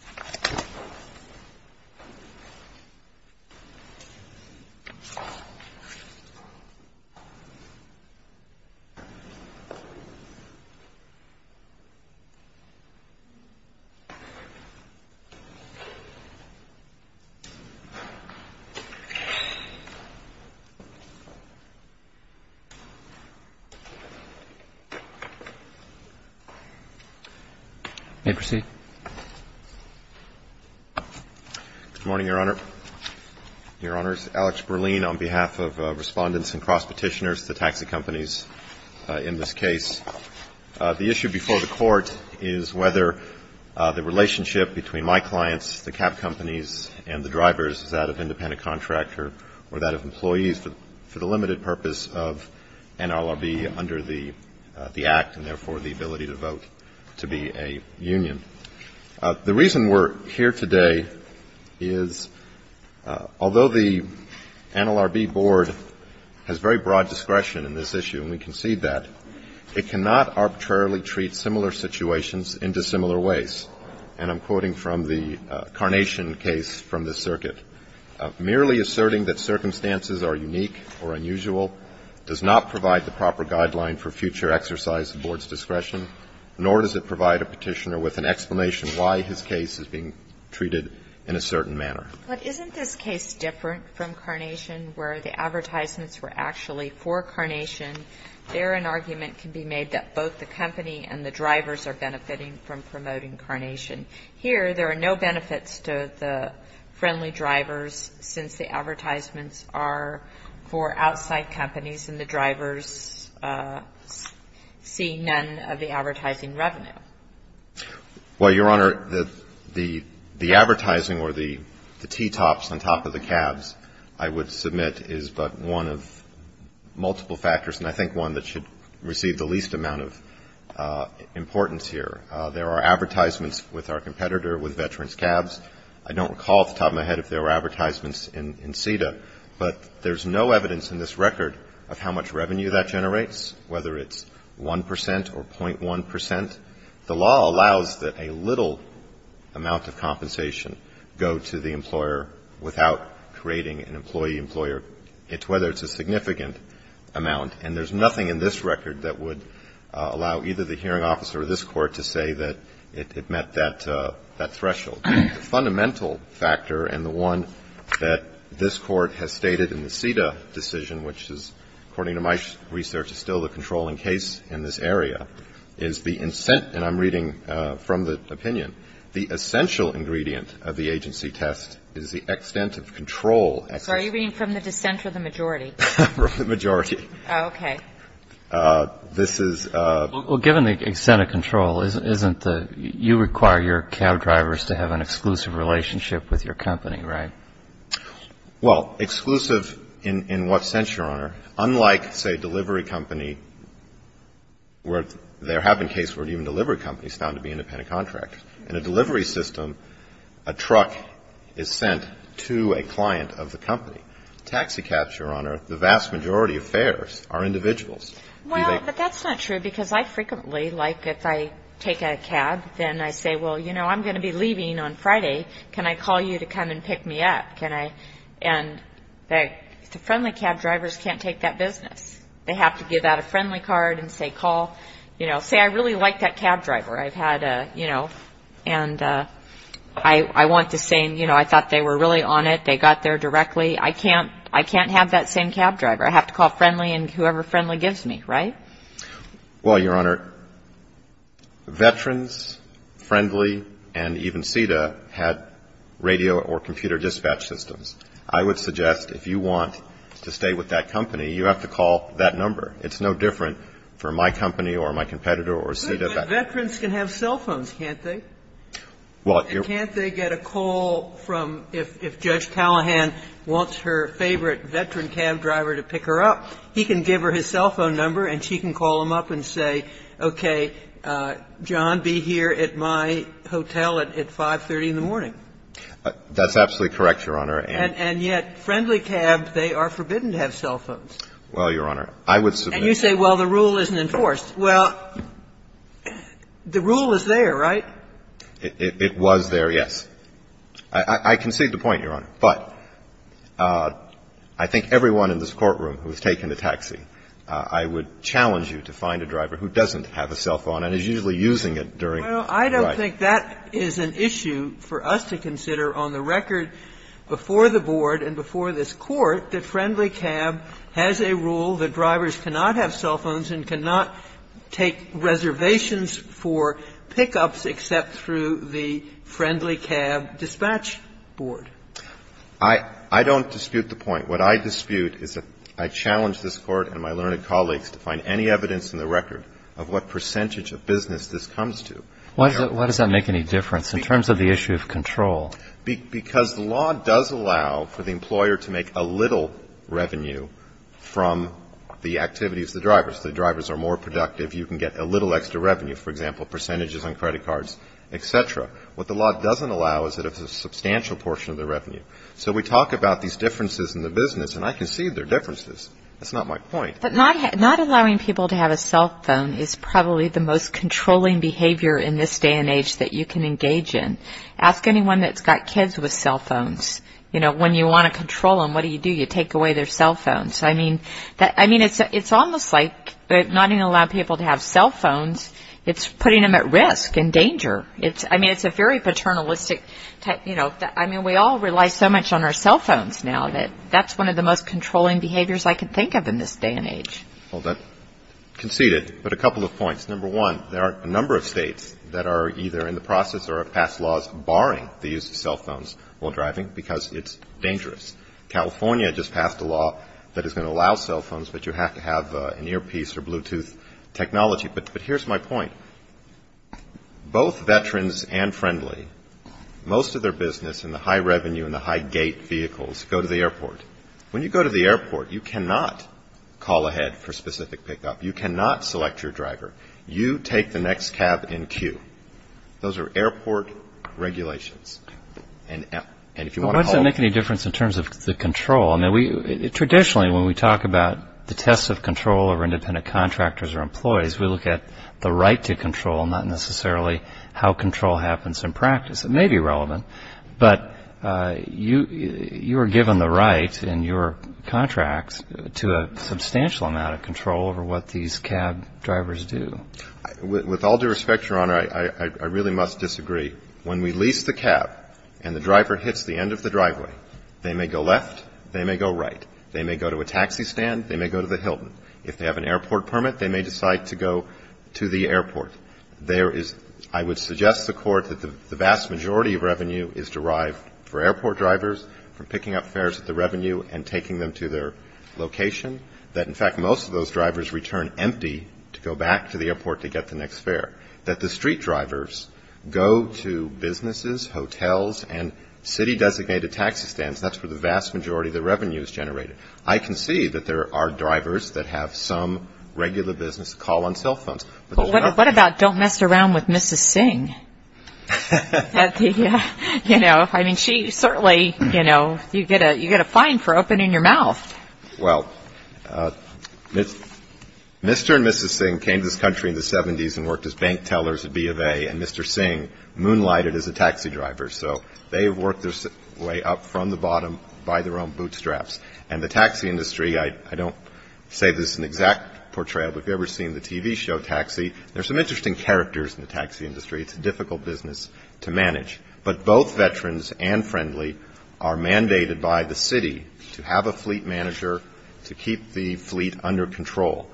EAST BAY TAXI DRIVER Good morning, Your Honor. Your Honors, Alex Berlein on behalf of respondents and cross-petitioners to taxi companies in this case. The issue before the Court is whether the relationship between my clients, the cab companies and the drivers is that of independent contractor or that of employees for the limited purpose of NLRB under the Act and therefore the ability to vote to be a union. The reason we're here today is although the NLRB Board has very broad discretion in this issue and we concede that, it cannot arbitrarily treat similar situations into similar ways. And I'm quoting from the Carnation case from this circuit. Merely asserting that circumstances are unique or unusual does not provide the proper guideline for future exercise of the Board's explanation why his case is being treated in a certain manner. But isn't this case different from Carnation where the advertisements were actually for Carnation? There an argument can be made that both the company and the drivers are benefiting from promoting Carnation. Here there are no benefits to the friendly drivers since the advertisements are for outside companies and the drivers see none of the advertising revenue. Well, Your Honor, the advertising or the T-tops on top of the cabs I would submit is but one of multiple factors and I think one that should receive the least amount of importance here. There are advertisements with our competitor with veterans' cabs. I don't recall off the top of my head if there were advertisements in CETA. But there's no evidence in this record of how much revenue that generates, whether it's 1 percent or .1 percent. The law allows that a little amount of compensation go to the employer without creating an employee-employer, whether it's a significant amount. And there's nothing in this record that would allow either the hearing officer or this Court to say that it met that threshold. The fundamental factor and the one that this Court has stated in the CETA decision, which is, according to my research, is still the controlling case in this area, is the incentive. And I'm reading from the opinion. The essential ingredient of the agency test is the extent of control. So are you reading from the dissent or the majority? The majority. Okay. This is the... Well, given the extent of control, isn't the you require your cab drivers to have an exclusive relationship with your company, right? Well, exclusive in what sense, Your Honor? Unlike, say, delivery company, where there have been cases where even delivery companies found to be independent contractors. In a delivery system, a truck is sent to a client of the company. Taxicabs, Your Honor, the vast majority of fares are individuals. Well, but that's not true, because I frequently, like, if I take a cab, then I say, well, you know, I'm going to be leaving on Friday. Can I call you to come and pick me up? Can I, and the friendly cab drivers can't take that business. They have to give out a friendly card and say, call, you know, say, I really like that cab driver. I've had a, you know, and I want the same, you know, I thought they were really on it. They got there directly. I can't have that same cab driver. I have to call friendly and whoever friendly gives me, right? Well, Your Honor, Veterans, Friendly, and even CETA had radio or computer dispatch systems. I would suggest if you want to stay with that company, you have to call that number. It's no different for my company or my competitor or CETA. But Veterans can have cell phones, can't they? Well, Your Honor. And can't they get a call from, if Judge Callahan wants her favorite Veteran cab driver to pick her up, he can give her his cell phone number and she can call him up and say, okay, John, be here at my hotel at 530 in the morning. That's absolutely correct, Your Honor. And yet friendly cab, they are forbidden to have cell phones. Well, Your Honor, I would submit that. And you say, well, the rule isn't enforced. Well, the rule is there, right? It was there, yes. I concede the point, Your Honor. But I think everyone in this courtroom who has taken a taxi, I would challenge you to find a driver who doesn't have a cell phone and is usually using it during the ride. Well, I don't think that is an issue for us to consider. On the record, before the Board and before this Court, the friendly cab has a rule that drivers cannot have cell phones and cannot take reservations for pickups except through the friendly cab dispatch board. I don't dispute the point. What I dispute is that I challenge this Court and my learned colleagues to find any evidence in the record of what percentage of business this comes to. Why does that make any difference in terms of the issue of control? Because the law does allow for the employer to make a little revenue from the activities of the drivers. The drivers are more productive. You can get a little extra revenue. For example, percentages on credit cards, et cetera. What the law doesn't allow is a substantial portion of the revenue. So we talk about these differences in the business, and I concede there are differences. That's not my point. But not allowing people to have a cell phone is probably the most controlling behavior in this day and age that you can engage in. Ask anyone that's got kids with cell phones. You know, when you want to control them, what do you do? You take away their cell phones. I mean, it's almost like not even allowing people to have cell phones, it's putting them at risk and danger. I mean, it's a very paternalistic type, you know. I mean, we all rely so much on our cell phones now that that's one of the most controlling behaviors I can think of in this day and age. Well, that conceded. But a couple of points. Number one, there are a number of states that are either in the process or have passed laws barring the use of cell phones while driving because it's dangerous. California just passed a law that is going to allow cell phones, but you have to have an earpiece or Bluetooth technology. But here's my point. Both veterans and friendly, most of their business in the high revenue and the high gate vehicles go to the airport. When you go to the airport, you cannot call ahead for specific pickup. You cannot select your driver. You take the next cab in queue. Those are airport regulations. Why does it make any difference in terms of the control? Traditionally, when we talk about the test of control over independent contractors or employees, we look at the right to control, not necessarily how control happens in practice. It may be relevant, but you are given the right in your contract to a substantial amount of control over what these cab drivers do. With all due respect, Your Honor, I really must disagree. When we lease the cab and the driver hits the end of the driveway, they may go left, they may go right. They may go to a taxi stand. They may go to the Hilton. If they have an airport permit, they may decide to go to the airport. There is – I would suggest to the Court that the vast majority of revenue is derived for airport drivers from picking up fares at the revenue and taking them to their location, that, in fact, most of those drivers return empty to go back to the airport to get the next fare, that the street drivers go to businesses, hotels, and city-designated taxi stands. That's where the vast majority of the revenue is generated. I can see that there are drivers that have some regular business call on cell phones. What about don't mess around with Mrs. Singh? You know, I mean, she certainly, you know, you get a fine for opening your mouth. Well, Mr. and Mrs. Singh came to this country in the 70s and worked as bank tellers at B of A, and Mr. Singh moonlighted as a taxi driver. So they have worked their way up from the bottom by their own bootstraps. And the taxi industry, I don't say this is an exact portrayal, but if you've ever seen the TV show Taxi, there are some interesting characters in the taxi industry. It's a difficult business to manage. But both veterans and friendly are mandated by the city to have a fleet manager to keep the fleet under control.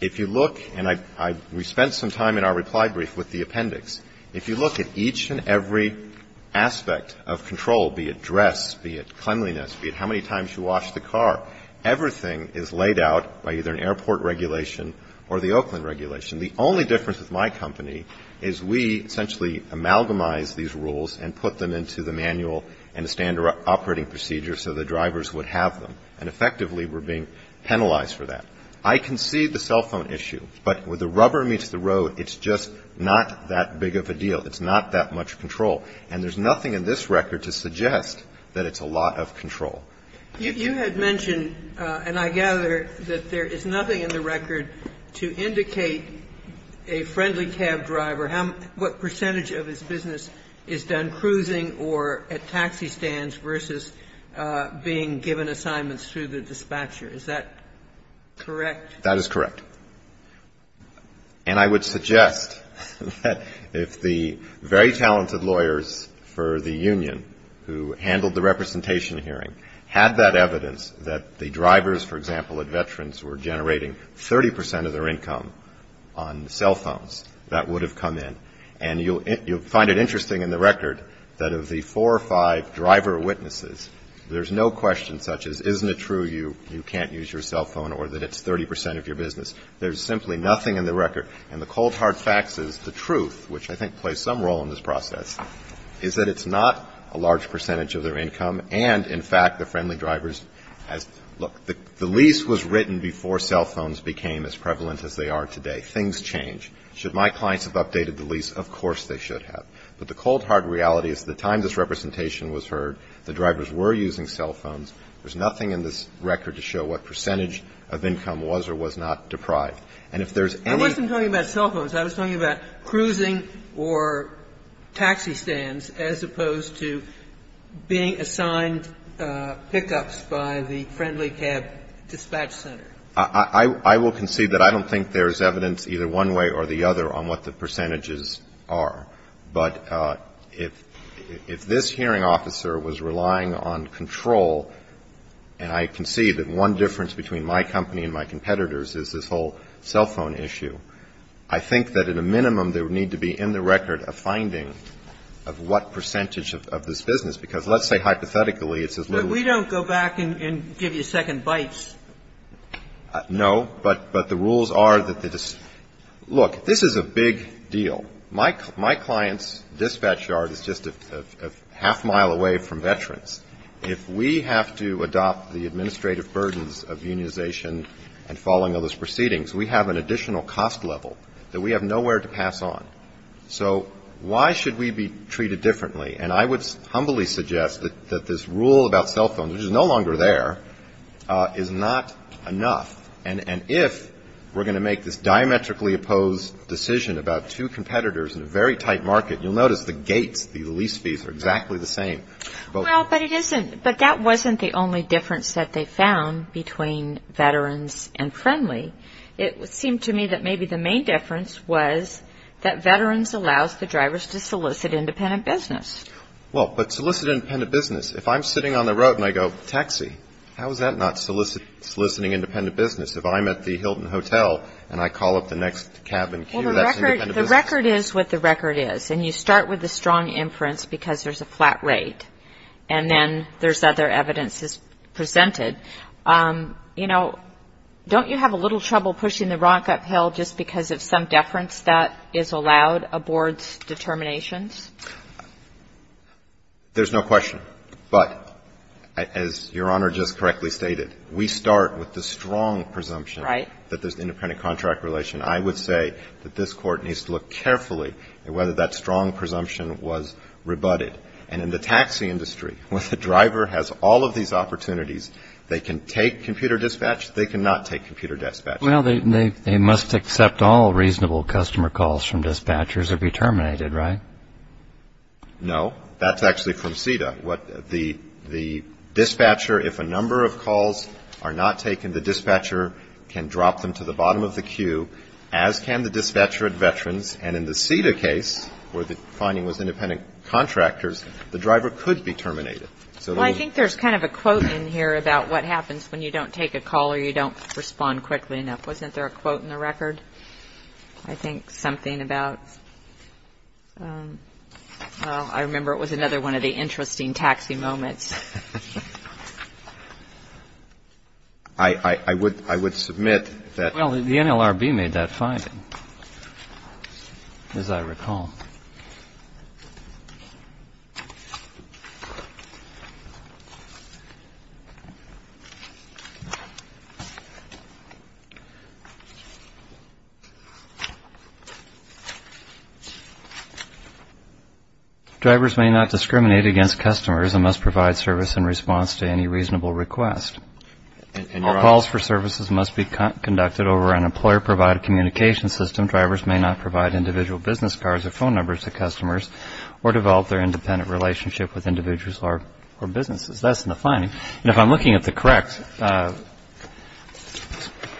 If you look, and we spent some time in our reply brief with the appendix, if you look at each and every aspect of control, be it dress, be it cleanliness, be it how many times you wash the car, everything is laid out by either an airport regulation or the Oakland regulation. The only difference with my company is we essentially amalgamize these rules and put them into the manual and the standard operating procedure so the drivers would have them. And effectively, we're being penalized for that. I concede the cell phone issue. But where the rubber meets the road, it's just not that big of a deal. It's not that much control. And there's nothing in this record to suggest that it's a lot of control. You had mentioned, and I gather that there is nothing in the record to indicate a friendly cab driver, what percentage of his business is done cruising or at taxi stands versus being given assignments through the dispatcher. Is that correct? That is correct. And I would suggest that if the very talented lawyers for the union who handled the representation hearing had that evidence that the drivers, for example, at Veterans were generating 30 percent of their income on cell phones, that would have come in. And you'll find it interesting in the record that of the four or five driver witnesses, there's no question such as isn't it true you can't use your cell phone or that it's 30 percent of your business. There's simply nothing in the record. And the cold, hard fact is the truth, which I think plays some role in this process, is that it's not a large percentage of their income and, in fact, the friendly drivers has to look. The lease was written before cell phones became as prevalent as they are today. Things change. Should my clients have updated the lease? Of course they should have. But the cold, hard reality is the time this representation was heard, the drivers were using cell phones. There's nothing in this record to show what percentage of income was or was not deprived. And if there's any ---- I wasn't talking about cell phones. I was talking about cruising or taxi stands as opposed to being assigned pickups by the friendly cab dispatch center. I will concede that I don't think there's evidence either one way or the other on what the percentages are. But if this hearing officer was relying on control, and I concede that one difference between my company and my competitors is this whole cell phone issue, I think that at a minimum there would need to be in the record a finding of what percentage of this business. Because let's say hypothetically it's as little as ---- But we don't go back and give you second bites. No. But the rules are that the ---- look, this is a big deal. My client's dispatch yard is just a half mile away from veterans. If we have to adopt the administrative burdens of unionization and following all those proceedings, we have an additional cost level that we have nowhere to pass on. So why should we be treated differently? And I would humbly suggest that this rule about cell phones, which is no longer there, is not enough. And if we're going to make this diametrically opposed decision about two competitors in a very tight market, you'll notice the gates, the lease fees are exactly the same. Well, but it isn't. But that wasn't the only difference that they found between veterans and friendly. It seemed to me that maybe the main difference was that veterans allows the drivers to solicit independent business. Well, but solicit independent business, if I'm sitting on the road and I go, How is that not soliciting independent business? If I'm at the Hilton Hotel and I call up the next cabin queue, that's independent business. Well, the record is what the record is. And you start with a strong inference because there's a flat rate, and then there's other evidence presented. You know, don't you have a little trouble pushing the rock uphill just because of some deference that is allowed aboard determinations? There's no question. But as Your Honor just correctly stated, we start with the strong presumption that there's independent contract relation. I would say that this Court needs to look carefully at whether that strong presumption was rebutted. And in the taxi industry, when the driver has all of these opportunities, they can take computer dispatch, they cannot take computer dispatch. Well, they must accept all reasonable customer calls from dispatchers or be terminated, right? No. That's actually from CEDA. The dispatcher, if a number of calls are not taken, the dispatcher can drop them to the bottom of the queue, as can the dispatcher at Veterans. And in the CEDA case, where the finding was independent contractors, the driver could be terminated. Well, I think there's kind of a quote in here about what happens when you don't take a call or you don't respond quickly enough. Wasn't there a quote in the record? I think something about, well, I remember it was another one of the interesting taxi moments. I would submit that. Well, the NLRB made that finding, as I recall. Drivers may not discriminate against customers and must provide service in response to any reasonable request. All calls for services must be conducted over an employer-provided communication system. Drivers may not provide individual business cards or phone numbers to customers or develop their independent relationship with individuals or businesses. That's in the finding. And if I'm looking at the correct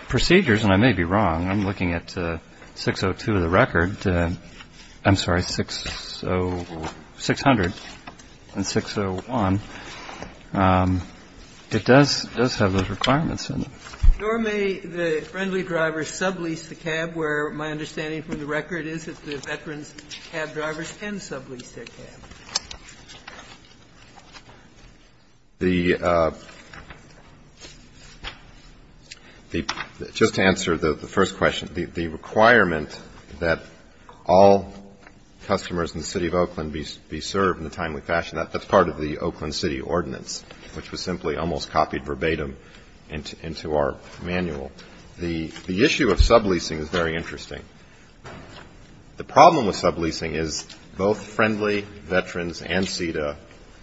procedures, and I may be wrong, I'm looking at 602 of the record. I'm sorry, 600 and 601. It does have those requirements in it. Nor may the friendly driver sublease the cab, where my understanding from the record is that the Veterans cab drivers can sublease their cab. Just to answer the first question, the requirement that all customers in the City of Oakland be served in a timely fashion, that's part of the Oakland City Ordinance, which was simply almost copied verbatim into our manual. The issue of subleasing is very interesting. The problem with subleasing is both Friendly, Veterans, and CETA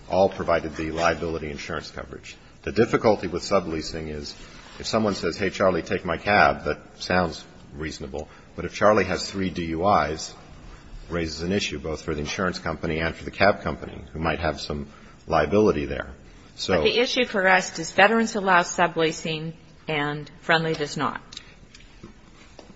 all provided the liability insurance coverage. The difficulty with subleasing is if someone says, hey, Charlie, take my cab, that sounds reasonable. But if Charlie has three DUIs, it raises an issue both for the insurance company and for the cab company, who might have some liability there. But the issue for us, does Veterans allow subleasing and Friendly does not?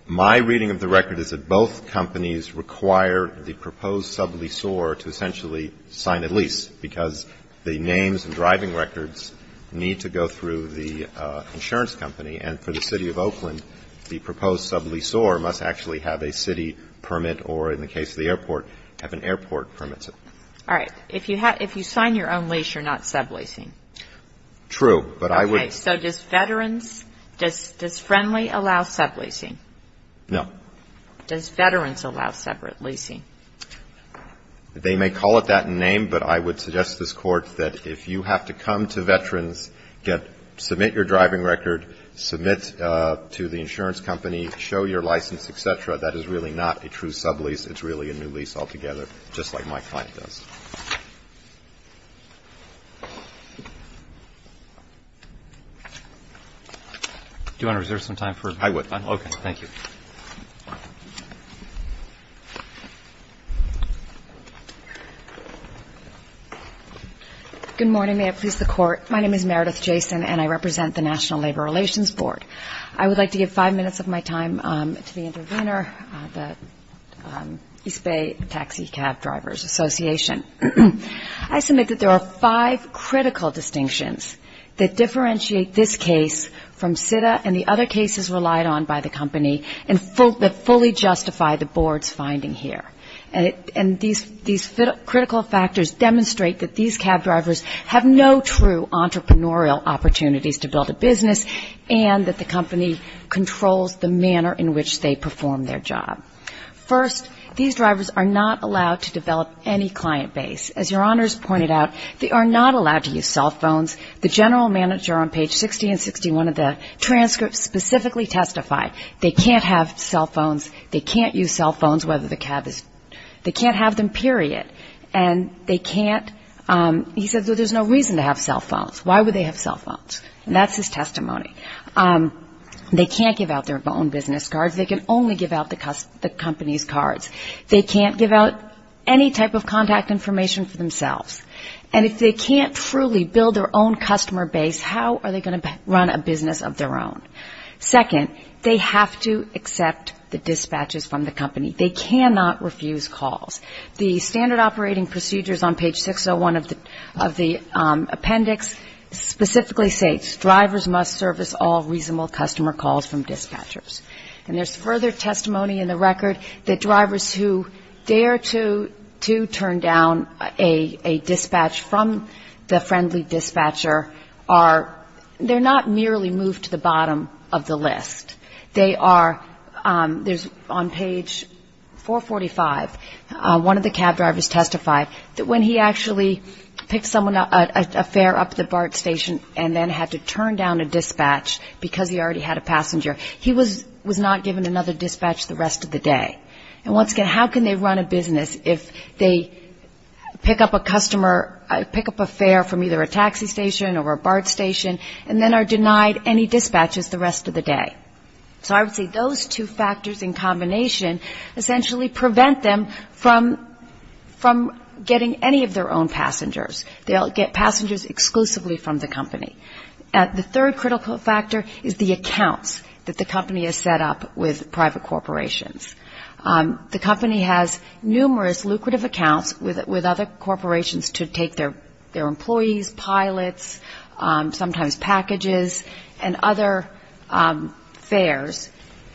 My reading of the record is that both companies require the proposed subleasor to essentially sign a lease, because the names and driving records need to go through the insurance company. And for the City of Oakland, the proposed subleasor must actually have a city permit, or in the case of the airport, have an airport permit. All right. If you sign your own lease, you're not subleasing. True. Okay. So does Veterans, does Friendly allow subleasing? No. Does Veterans allow separate leasing? They may call it that name, but I would suggest to this Court that if you have to come to Veterans, submit your driving record, submit to the insurance company, show your license, et cetera, that is really not a true sublease, it's really a new lease altogether, just like my client does. Do you want to reserve some time for questions? I would. Okay. Thank you. Good morning. May it please the Court. My name is Meredith Jason, and I represent the National Labor Relations Board. I would like to give five minutes of my time to the intervener, the East Bay Taxi Cab Drivers Association. I submit that there are five critical distinctions that differentiate this case from CIDA and the other cases relied on by the company that fully justify the Board's finding here. And these critical factors demonstrate that these cab drivers have no true entrepreneurial opportunities to build a business and that the company controls the manner in which they perform their job. First, these drivers are not allowed to develop any client base. As Your Honors pointed out, they are not allowed to use cell phones. The general manager on page 60 and 61 of the transcript specifically testified they can't have cell phones, they can't use cell phones whether the cab is they can't have them, period. And they can't, he said, there's no reason to have cell phones. Why would they have cell phones? And that's his testimony. They can't give out their own business cards. They can only give out the company's cards. They can't give out any type of contact information for themselves. And if they can't truly build their own customer base, how are they going to run a business of their own? Second, they have to accept the dispatches from the company. They cannot refuse calls. The standard operating procedures on page 601 of the appendix specifically states drivers must service all reasonable customer calls from dispatchers. And there's further testimony in the record that drivers who dare to turn down a dispatch from the friendly dispatcher are, they're not merely moved to the bottom of the list. They are, there's on page 445, one of the cab drivers testified that when he actually picked someone up, got a fare up at the BART station and then had to turn down a dispatch because he already had a passenger, he was not given another dispatch the rest of the day. And once again, how can they run a business if they pick up a customer, pick up a fare from either a taxi station or a BART station and then are denied any dispatches the rest of the day? So I would say those two factors in combination essentially prevent them from getting any of their own passengers. They'll get passengers exclusively from the company. The third critical factor is the accounts that the company has set up with private corporations. The company has numerous lucrative accounts with other corporations to take their employees, pilots, sometimes packages and other fares.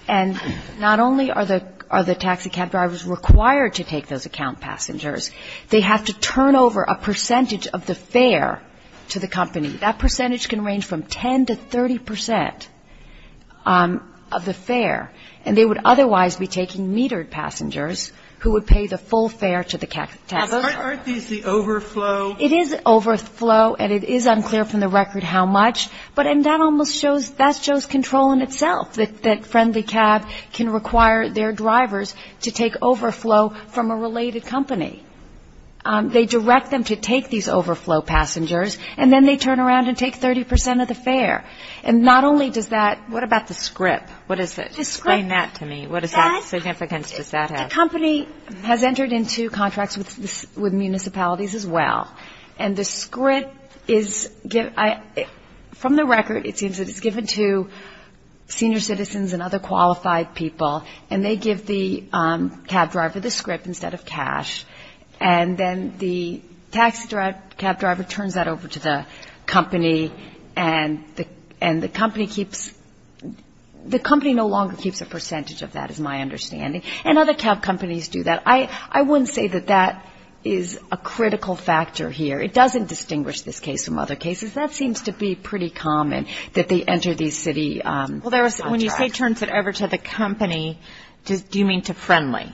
And not only are the taxi cab drivers required to take those account passengers, they have to turn over a percentage of the fare to the company. That percentage can range from 10 to 30 percent of the fare, and they would otherwise be taking metered passengers who would pay the full fare to the taxi driver. Aren't these the overflow? It is overflow, and it is unclear from the record how much, but that almost shows, but that shows control in itself, that friendly cab can require their drivers to take overflow from a related company. They direct them to take these overflow passengers, and then they turn around and take 30 percent of the fare. And not only does that ‑‑ What about the script? Just explain that to me. What significance does that have? The company has entered into contracts with municipalities as well, and the script is ‑‑ from the record, it seems that it's given to senior citizens and other qualified people, and they give the cab driver the script instead of cash, and then the taxi cab driver turns that over to the company, and the company keeps ‑‑ the company no longer keeps a percentage of that, is my understanding. And other cab companies do that. I wouldn't say that that is a critical factor here. It doesn't distinguish this case from other cases. That seems to be pretty common, that they enter these city contracts. When you say turns it over to the company, do you mean to friendly?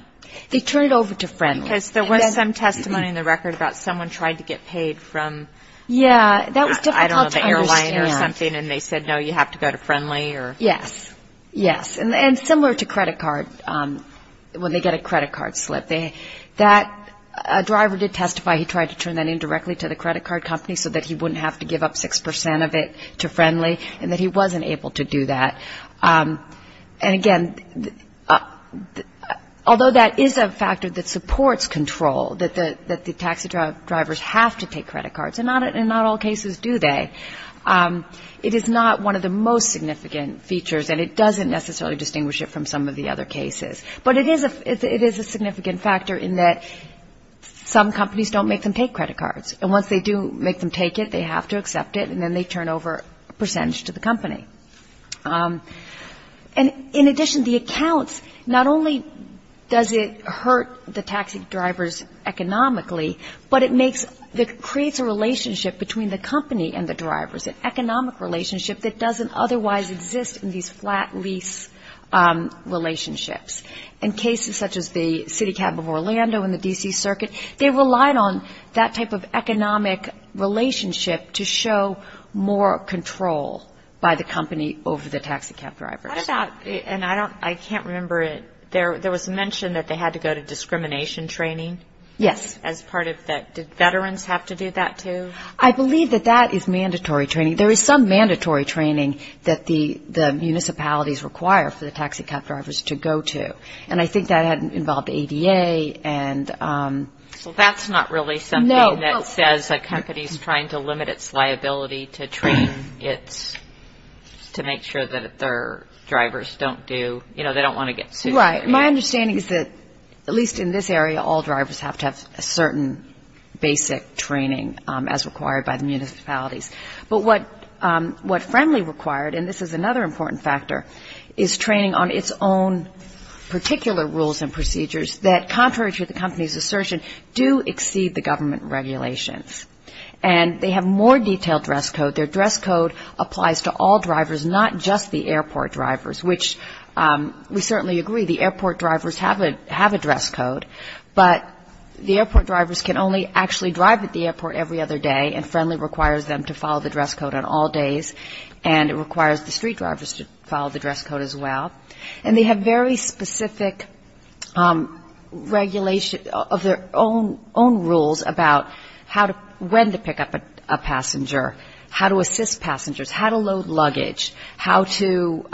They turn it over to friendly. Because there was some testimony in the record about someone tried to get paid from, I don't know, the airline or something, and they said, no, you have to go to friendly. Yes, yes. And similar to credit card, when they get a credit card slip, that driver did testify, he tried to turn that in directly to the credit card company so that he wouldn't have to give up 6% of it to friendly, and that he wasn't able to do that. And, again, although that is a factor that supports control, that the taxi drivers have to take credit cards, and not all cases do they, it is not one of the most significant features, and it doesn't necessarily distinguish it from some of the other cases. But it is a significant factor in that some companies don't make them take credit cards. And once they do make them take it, they have to accept it, and then they turn over a percentage to the company. And, in addition, the accounts, not only does it hurt the taxi drivers economically, but it makes, it creates a relationship between the company and the drivers, an economic relationship that doesn't otherwise exist in these flat lease relationships. In cases such as the City Cab of Orlando and the D.C. Circuit, they relied on that type of economic relationship to show more control by the company over the taxi cab drivers. How about, and I can't remember, there was mention that they had to go to discrimination training. Yes. As part of that, did veterans have to do that, too? I believe that that is mandatory training. There is some mandatory training that the municipalities require for the taxi cab drivers to go to, and I think that had involved ADA and... So that's not really something that says a company is trying to limit its liability to train its, to make sure that their drivers don't do, you know, they don't want to get sued. Right. My understanding is that, at least in this area, all drivers have to have a certain basic training as required by the municipalities. But what Friendly required, and this is another important factor, is training on its own particular rules and procedures that, contrary to the company's assertion, do exceed the government regulations. And they have more detailed dress code. Their dress code applies to all drivers, not just the airport drivers, which we certainly agree, the airport drivers have a dress code, but the airport drivers can only actually drive at the airport every other day, and Friendly requires them to follow the dress code on all days, and it requires the street drivers to follow the dress code as well. And they have very specific regulation of their own rules about how to, when to pick up a passenger, how to assist passengers, how to load luggage, how to,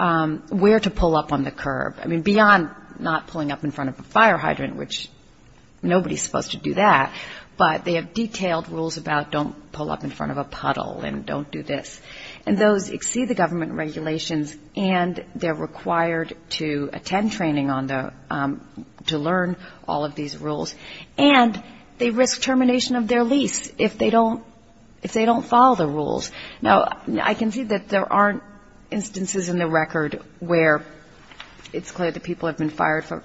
where to pull up on the curb. I mean, beyond not pulling up in front of a fire hydrant, which nobody's supposed to do that, but they have detailed rules about don't pull up in front of a puddle and don't do this. And those exceed the government regulations, and they're required to attend training on the, to learn all of these rules. And they risk termination of their lease if they don't, if they don't follow the rules. Now, I can see that there aren't instances in the record where it's clear that people have been fired for,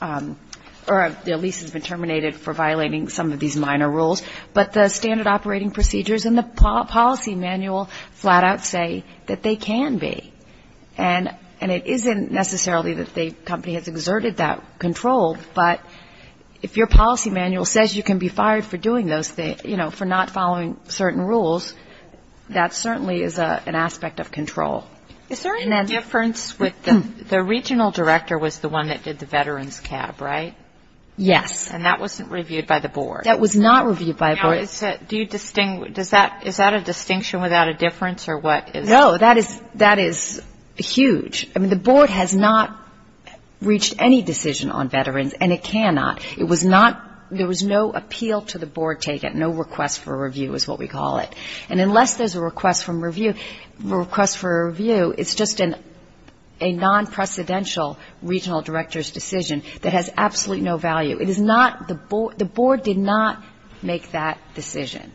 or their lease has been terminated for violating some of these minor rules, but the standard operating procedures in the policy manual flat out say that they can be. And it isn't necessarily that the company has exerted that control, but if your policy manual says you can be fired for doing those things, you know, for not following certain rules, that certainly is an aspect of control. Is there any difference with the, the regional director was the one that did the veterans cab, right? Yes. And that wasn't reviewed by the board? That was not reviewed by the board. Now, is that, do you, does that, is that a distinction without a difference, or what is it? No, that is, that is huge. I mean, the board has not reached any decision on veterans, and it cannot. It was not, there was no appeal to the board taken, no request for review is what we call it. And unless there's a request from review, request for review, it's just a non-precedential regional director's decision that has absolutely no value. It is not, the board, the board did not make that decision.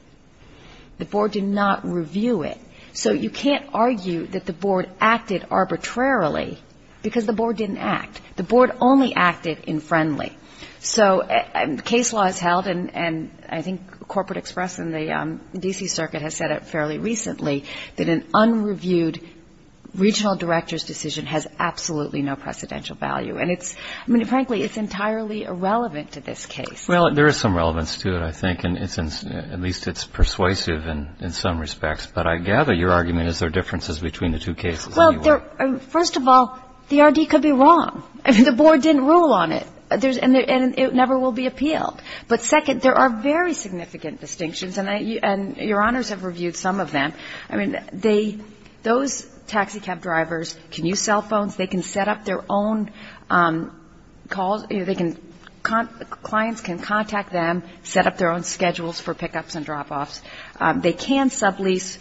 The board did not review it. So you can't argue that the board acted arbitrarily because the board didn't act. The board only acted in friendly. So case law is held, and I think Corporate Express and the D.C. Circuit has said it fairly recently, that an unreviewed regional director's decision has absolutely no precedential value. And it's, I mean, frankly, it's entirely irrelevant to this case. Well, there is some relevance to it, I think, and it's, at least it's persuasive in some respects. But I gather your argument is there differences between the two cases anyway. Well, there, first of all, the R.D. could be wrong. I mean, the board didn't rule on it, and it never will be appealed. But second, there are very significant distinctions, and I, and Your Honors have reviewed some of them. I mean, they, those taxi cab drivers can use cell phones, they can set up their own calls, they can, clients can contact them, set up their own schedules for pickups and drop-offs. They can sublease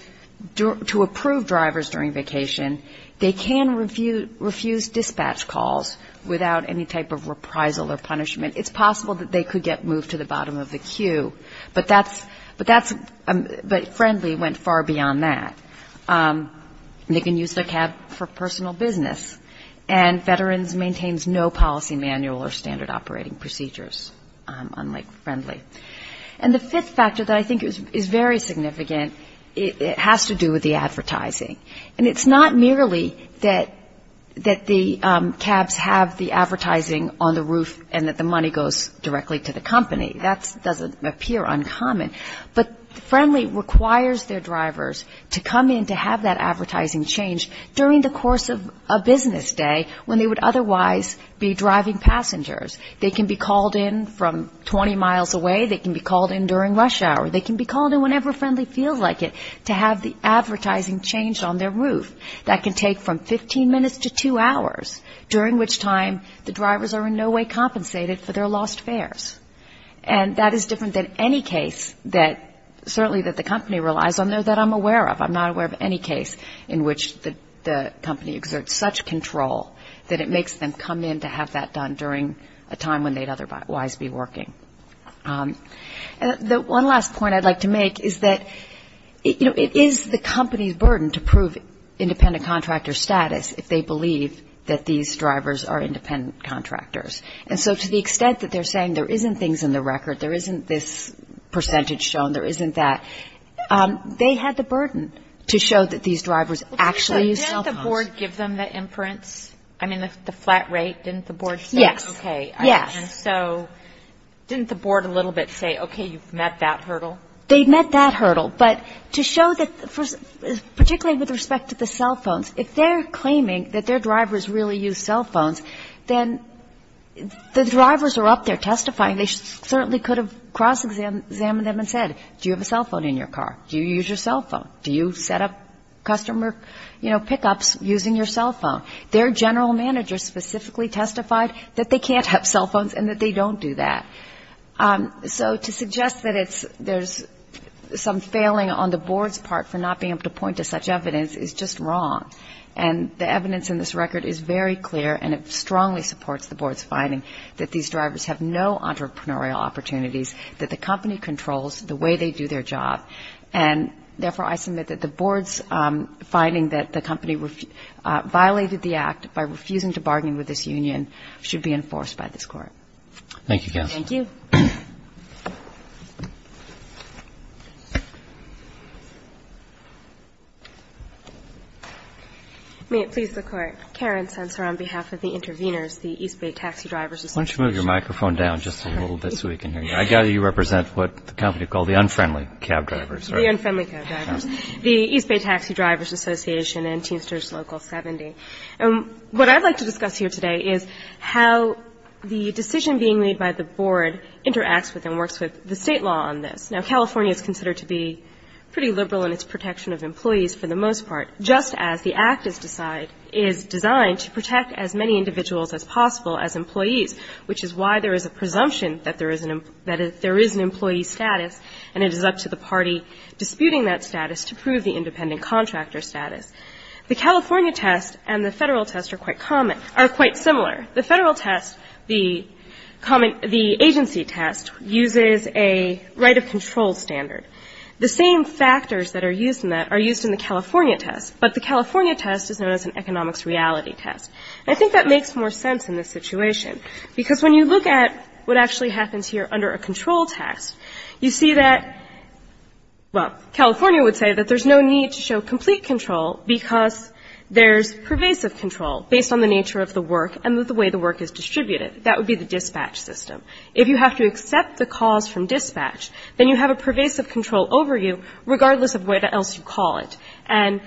to approve drivers during vacation. They can refuse dispatch calls without any type of reprisal or punishment. It's possible that they could get moved to the bottom of the queue. But that's, but that's, but Friendly went far beyond that. They can use their cab for personal business. And Veterans maintains no policy manual or standard operating procedures, unlike Friendly. And the fifth factor that I think is very significant, it has to do with the advertising. And it's not merely that the cabs have the advertising on the roof and that the money goes directly to the company. That doesn't appear uncommon. But Friendly requires their drivers to come in to have that advertising changed during the course of a business day when they would otherwise be driving passengers. They can be called in from 20 miles away, they can be called in during rush hour, they can be called in whenever Friendly feels like it to have the advertising changed on their roof. That can take from 15 minutes to two hours, during which time the drivers are in no way compensated for their lost fares. And that is different than any case that certainly that the company relies on, though, that I'm aware of. I'm not aware of any case in which the company exerts such control that it makes them come in to have that done during a time when they'd otherwise be working. The one last point I'd like to make is that, you know, it is the company's burden to prove independent contractor status if they believe that these drivers are independent contractors. And so to the extent that they're saying there isn't things in the record, there isn't this percentage shown, there isn't that, they had the burden to show that these drivers actually used cell phones. Did the board give them the inference? I mean, the flat rate, didn't the board say? Yes. Okay. Yes. And so didn't the board a little bit say, okay, you've met that hurdle? They'd met that hurdle. But to show that, particularly with respect to the cell phones, if they're claiming that their drivers really use cell phones, then the drivers are up there testifying. They certainly could have cross-examined them and said, do you have a cell phone in your car? Do you use your cell phone? Do you set up customer, you know, pickups using your cell phone? Their general manager specifically testified that they can't have cell phones and that they don't do that. So to suggest that there's some failing on the board's part for not being able to point to such evidence is just wrong. And the evidence in this record is very clear, and it strongly supports the board's finding that these drivers have no entrepreneurial opportunities, that the company controls the way they do their job. And, therefore, I submit that the board's finding that the company violated the act by refusing to bargain with this union should be enforced by this Court. Thank you, counsel. Thank you. May it please the Court. Karen Sensor on behalf of the intervenors, the East Bay Taxi Drivers Association. Why don't you move your microphone down just a little bit so we can hear you. I gather you represent what the company called the unfriendly cab drivers. The unfriendly cab drivers. The East Bay Taxi Drivers Association and Teamsters Local 70. And what I'd like to discuss here today is how the decision being made by the board interacts with and works with the State law on this. Now, California is considered to be pretty liberal in its protection of employees for the most part, just as the act is designed to protect as many individuals as possible as employees, which is why there is a presumption that there is an employee status, and it is up to the party disputing that status to prove the independent contractor status. The California test and the Federal test are quite similar. The Federal test, the agency test, uses a right of control standard. The same factors that are used in that are used in the California test, but the California test is known as an economics reality test. I think that makes more sense in this situation, because when you look at what actually happens here under a control test, you see that, well, California would say that there's no need to show complete control because there's pervasive control based on the nature of the work and the way the work is distributed. That would be the dispatch system. If you have to accept the cause from dispatch, then you have a pervasive control over you regardless of what else you call it. And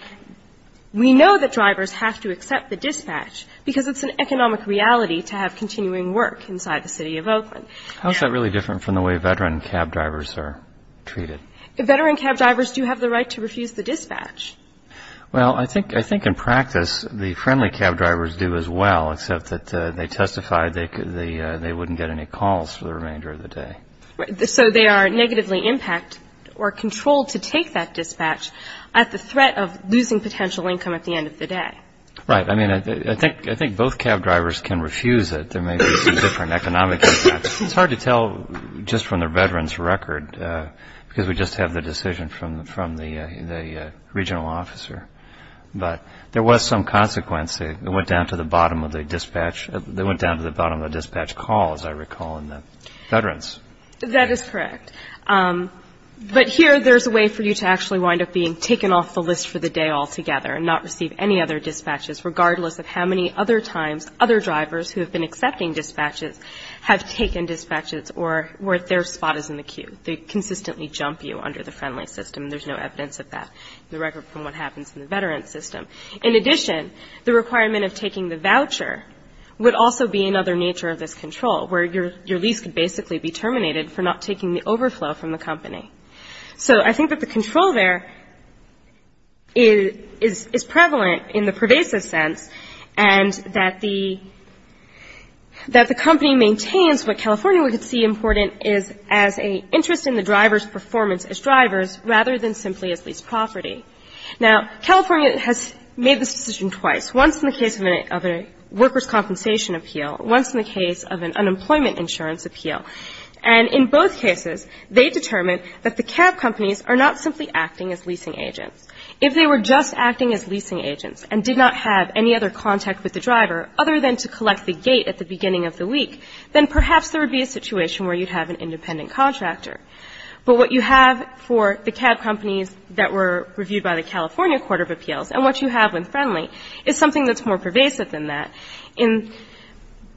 we know that drivers have to accept the dispatch because it's an economic reality to have continuing work inside the city of Oakland. How is that really different from the way veteran cab drivers are treated? Veteran cab drivers do have the right to refuse the dispatch. Well, I think in practice the friendly cab drivers do as well, except that they testified they wouldn't get any calls for the remainder of the day. So they are negatively impacted or controlled to take that dispatch at the threat of losing potential income at the end of the day. Right. I mean, I think both cab drivers can refuse it. There may be some different economic impacts. It's hard to tell just from the veteran's record because we just have the decision from the regional officer. But there was some consequence. It went down to the bottom of the dispatch call, as I recall, in the veterans. That is correct. But here there's a way for you to actually wind up being taken off the list for the day altogether and not receive any other dispatches regardless of how many other times other drivers who have been accepting dispatches have taken dispatches or their spot is in the queue. They consistently jump you under the friendly system. There's no evidence of that in the record from what happens in the veteran system. In addition, the requirement of taking the voucher would also be another nature of this control where your lease could basically be terminated for not taking the overflow from the company. So I think that the control there is prevalent in the pervasive sense and that the company maintains what California would see important as an interest in the driver's performance as drivers rather than simply as lease property. Now, California has made this decision twice, once in the case of a workers' compensation appeal, once in the case of an unemployment insurance appeal. And in both cases, they determined that the cab companies are not simply acting as leasing agents. If they were just acting as leasing agents and did not have any other contact with the driver other than to collect the gate at the beginning of the week, then perhaps there would be a situation where you'd have an independent contractor. But what you have for the cab companies that were reviewed by the California Court of Appeals and what you have with Friendly is something that's more pervasive than that.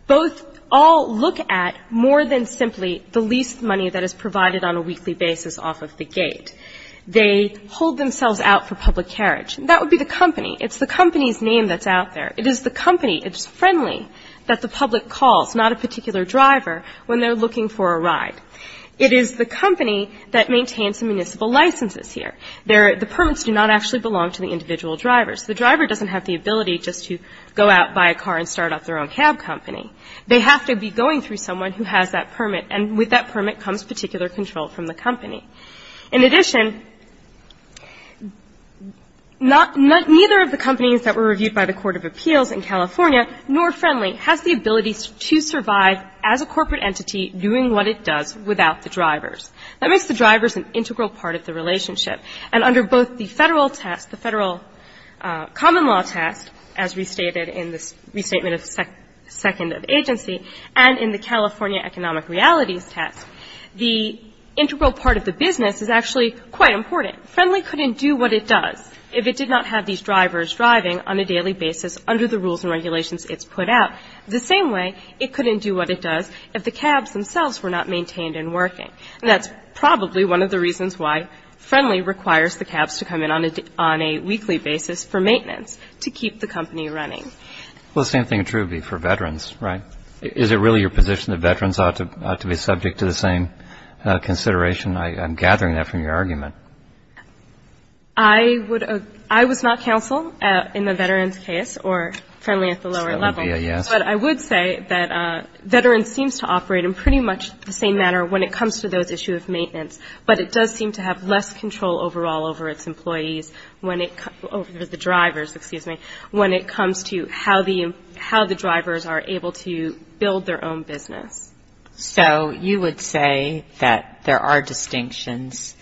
Both all look at more than simply the lease money that is provided on a weekly basis off of the gate. They hold themselves out for public carriage. That would be the company. It's the company's name that's out there. It is the company, it's Friendly, that the public calls, not a particular driver, when they're looking for a ride. It is the company that maintains the municipal licenses here. The permits do not actually belong to the individual drivers. The driver doesn't have the ability just to go out, buy a car, and start up their own cab company. They have to be going through someone who has that permit, and with that permit comes particular control from the company. In addition, neither of the companies that were reviewed by the Court of Appeals in California, nor Friendly, has the ability to survive as a corporate entity doing what it does without the drivers. That makes the drivers an integral part of the relationship. And under both the Federal test, the Federal common law test, as restated in the restatement of the second of agency, and in the California economic realities test, the integral part of the business is actually quite important. Friendly couldn't do what it does if it did not have these drivers driving on a daily basis under the rules and regulations it's put out the same way it couldn't do what it does if the cabs themselves were not maintained and working. And that's probably one of the reasons why Friendly requires the cabs to come in on a weekly basis for maintenance, to keep the company running. Well, the same thing would be true for veterans, right? Is it really your position that veterans ought to be subject to the same consideration? I'm gathering that from your argument. I was not counsel in the veterans case, or Friendly at the lower level. But I would say that veterans seems to operate in pretty much the same manner when it comes to those issues of maintenance. But it does seem to have less control overall over its employees, over the drivers, excuse me, when it comes to how the drivers are able to build their own business. So you would say that there are distinctions,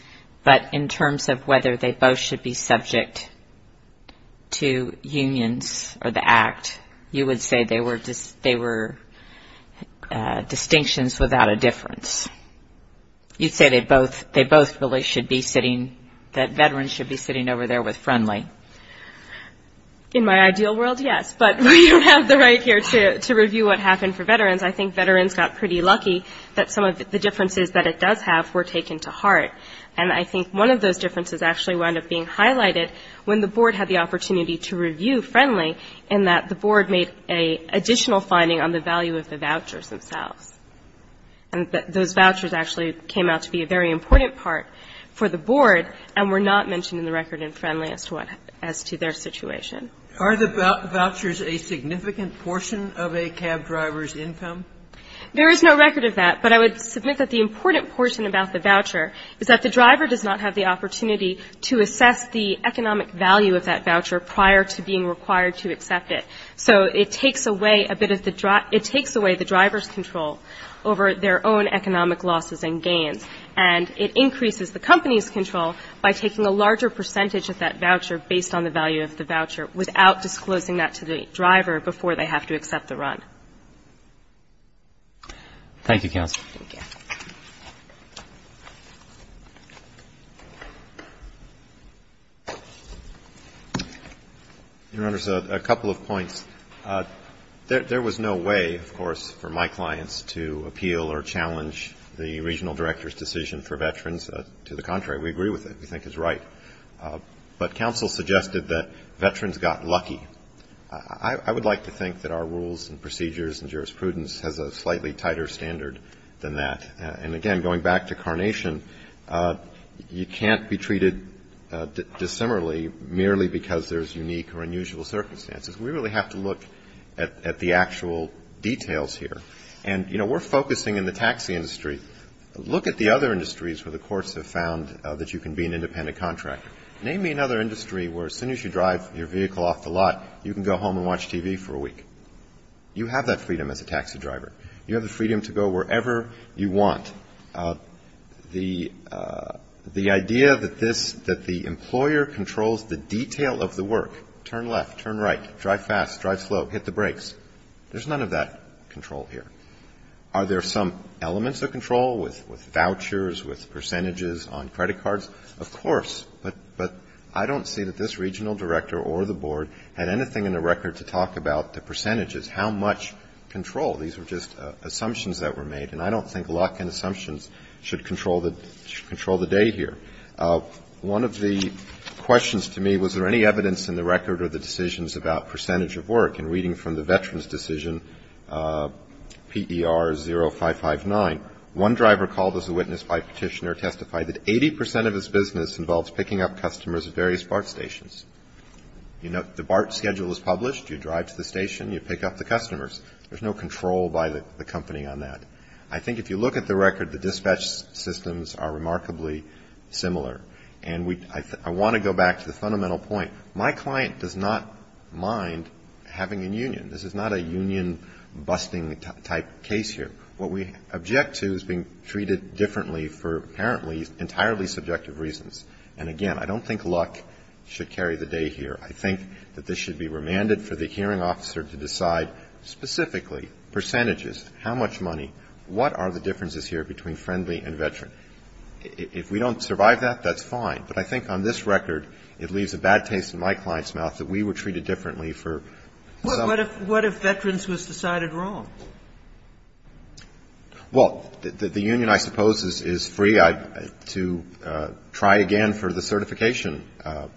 but in terms of whether they both should be subject to unions or the Act, you would say they were distinctions without a difference. You'd say they both really should be sitting, that veterans should be sitting over there with Friendly. In my ideal world, yes. But we don't have the right here to review what happened for veterans. I think veterans got pretty lucky that some of the differences that it does have were taken to heart. And I think one of those differences actually wound up being highlighted when the Board had the opportunity to review Friendly, in that the Board made an additional finding on the value of the vouchers themselves. And those vouchers actually came out to be a very important part for the Board and were not mentioned in the record in Friendly as to their situation. Are the vouchers a significant portion of a cab driver's income? There is no record of that. But I would submit that the important portion about the voucher is that the driver does not have the opportunity to assess the economic value of that voucher prior to being required to accept it. So it takes away a bit of the driver's control over their own economic losses and gains. And it increases the company's control by taking a larger percentage of that voucher based on the value of the voucher without disclosing that to the driver before they have to accept the run. Thank you, Counsel. Thank you. Your Honors, a couple of points. There was no way, of course, for my clients to appeal or challenge the Regional Director's decision for veterans. To the contrary, we agree with it. We think it's right. But Counsel suggested that veterans got lucky. I would like to think that our rules and procedures and jurisprudence has a slightly tighter standard than that. And, again, going back to carnation, you can't be treated dissimilarly merely because there's unique or unusual circumstances. We really have to look at the actual details here. And, you know, we're focusing in the taxi industry. Look at the other industries where the courts have found that you can be an independent contractor. Name me another industry where as soon as you drive your vehicle off the lot, you can go home and watch TV for a week. You have that freedom as a taxi driver. You have the freedom to go wherever you want. The idea that the employer controls the detail of the work, turn left, turn right, drive fast, drive slow, hit the brakes, there's none of that control here. Are there some elements of control with vouchers, with percentages on credit cards? Of course. But I don't see that this regional director or the board had anything in the record to talk about the percentages, how much control. These were just assumptions that were made. And I don't think luck and assumptions should control the day here. One of the questions to me, was there any evidence in the record or the decisions about percentage of work? And reading from the Veterans Decision PER 0559, one driver called as a witness by petitioner testified that 80% of his business involves picking up customers at various BART stations. The BART schedule is published, you drive to the station, you pick up the customers. There's no control by the company on that. I think if you look at the record, the dispatch systems are remarkably similar. And I want to go back to the fundamental point. My client does not mind having a union. This is not a union busting type case here. What we object to is being treated differently for apparently entirely subjective reasons. And again, I don't think luck should carry the day here. I think that this should be remanded for the hearing officer to decide specifically percentages, how much money, what are the differences here between friendly and veteran. If we don't survive that, that's fine. But I think on this record, it leaves a bad taste in my client's mouth that we were treated differently for some. What if veterans was decided wrong? Well, the union, I suppose, is free to try again for the certification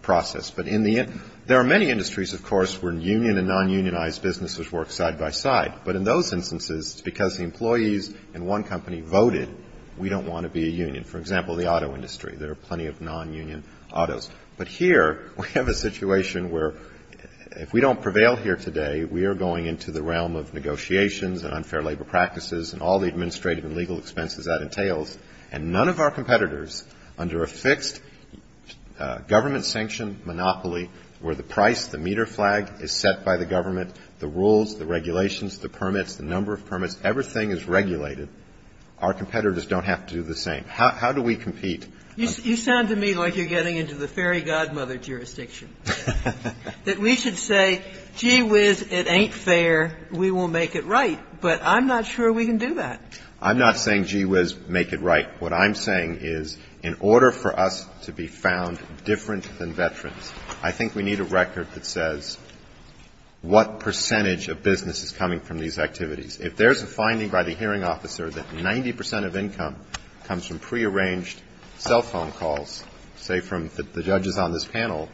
process. But in the end, there are many industries, of course, where union and non-unionized businesses work side by side. But in those instances, because the employees in one company voted, we don't want to be a union. For example, the auto industry. There are plenty of non-union autos. But here we have a situation where if we don't prevail here today, we are going into the realm of negotiations and unfair labor practices and all the administrative and legal expenses that entails. And none of our competitors, under a fixed government-sanctioned monopoly where the price, the meter flag, is set by the government, the rules, the regulations, the permits, the number of permits, everything is regulated, our competitors don't have to do the same. How do we compete? You sound to me like you're getting into the fairy godmother jurisdiction. That we should say, gee whiz, it ain't fair, we will make it right. But I'm not sure we can do that. I'm not saying gee whiz, make it right. What I'm saying is in order for us to be found different than veterans, I think we need a record that says what percentage of business is coming from these activities. If there's a finding by the hearing officer that 90 percent of income comes from prearranged cell phone calls, say from the judges on this panel,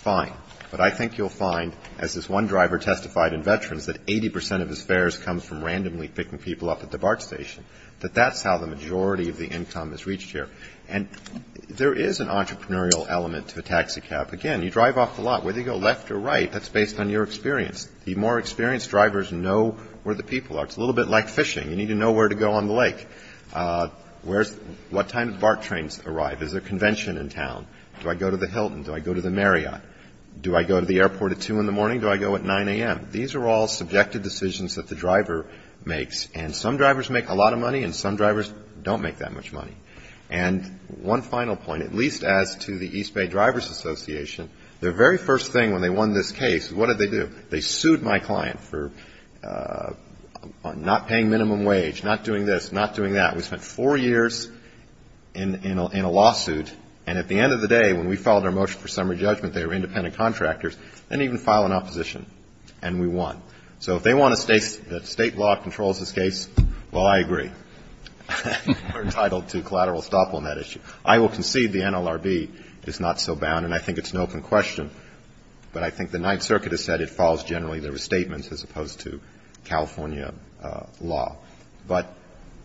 fine. But I think you'll find, as this one driver testified in veterans, that 80 percent of his fares comes from randomly picking people up at the BART station, that that's how the majority of the income is reached here. And there is an entrepreneurial element to a taxicab. Again, you drive off the lot, whether you go left or right, that's based on your experience. The more experienced drivers know where the people are. It's a little bit like fishing. You need to know where to go on the lake. What time do BART trains arrive? Is there a convention in town? Do I go to the Hilton? Do I go to the Marriott? Do I go to the airport at 2 in the morning? Do I go at 9 a.m.? These are all subjective decisions that the driver makes. And some drivers make a lot of money and some drivers don't make that much money. And one final point, at least as to the East Bay Drivers Association, their very first thing when they won this case, what did they do? They sued my client for not paying minimum wage, not doing this, not doing that. We spent four years in a lawsuit. And at the end of the day, when we filed our motion for summary judgment, they were independent contractors, didn't even file an opposition, and we won. So if they want a state law that controls this case, well, I agree. We're entitled to collateral estoppel on that issue. I will concede the NLRB is not so bound, and I think it's an open question. But I think the Ninth Circuit has said it files generally their restatements as opposed to California law. But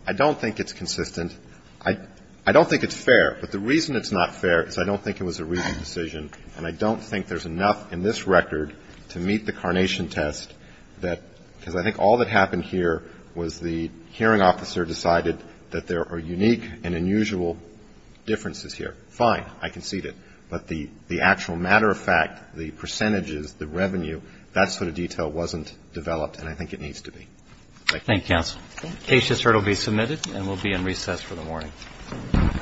I don't think it's consistent. I don't think it's fair. But the reason it's not fair is I don't think it was a reasonable decision, and I don't think there's enough in this record to meet the carnation test that ‑‑ because I think all that happened here was the hearing officer decided that there are unique and unusual differences here. Fine. I concede it. But the actual matter of fact, the percentages, the revenue, that sort of detail wasn't developed, and I think it needs to be. Thank you. Thank you, counsel. The case has heard will be submitted and will be in recess for the morning. All rise. The case has heard will be submitted and will be in recess for the morning. Thank you. The case has heard will be submitted and will be in recess for the morning.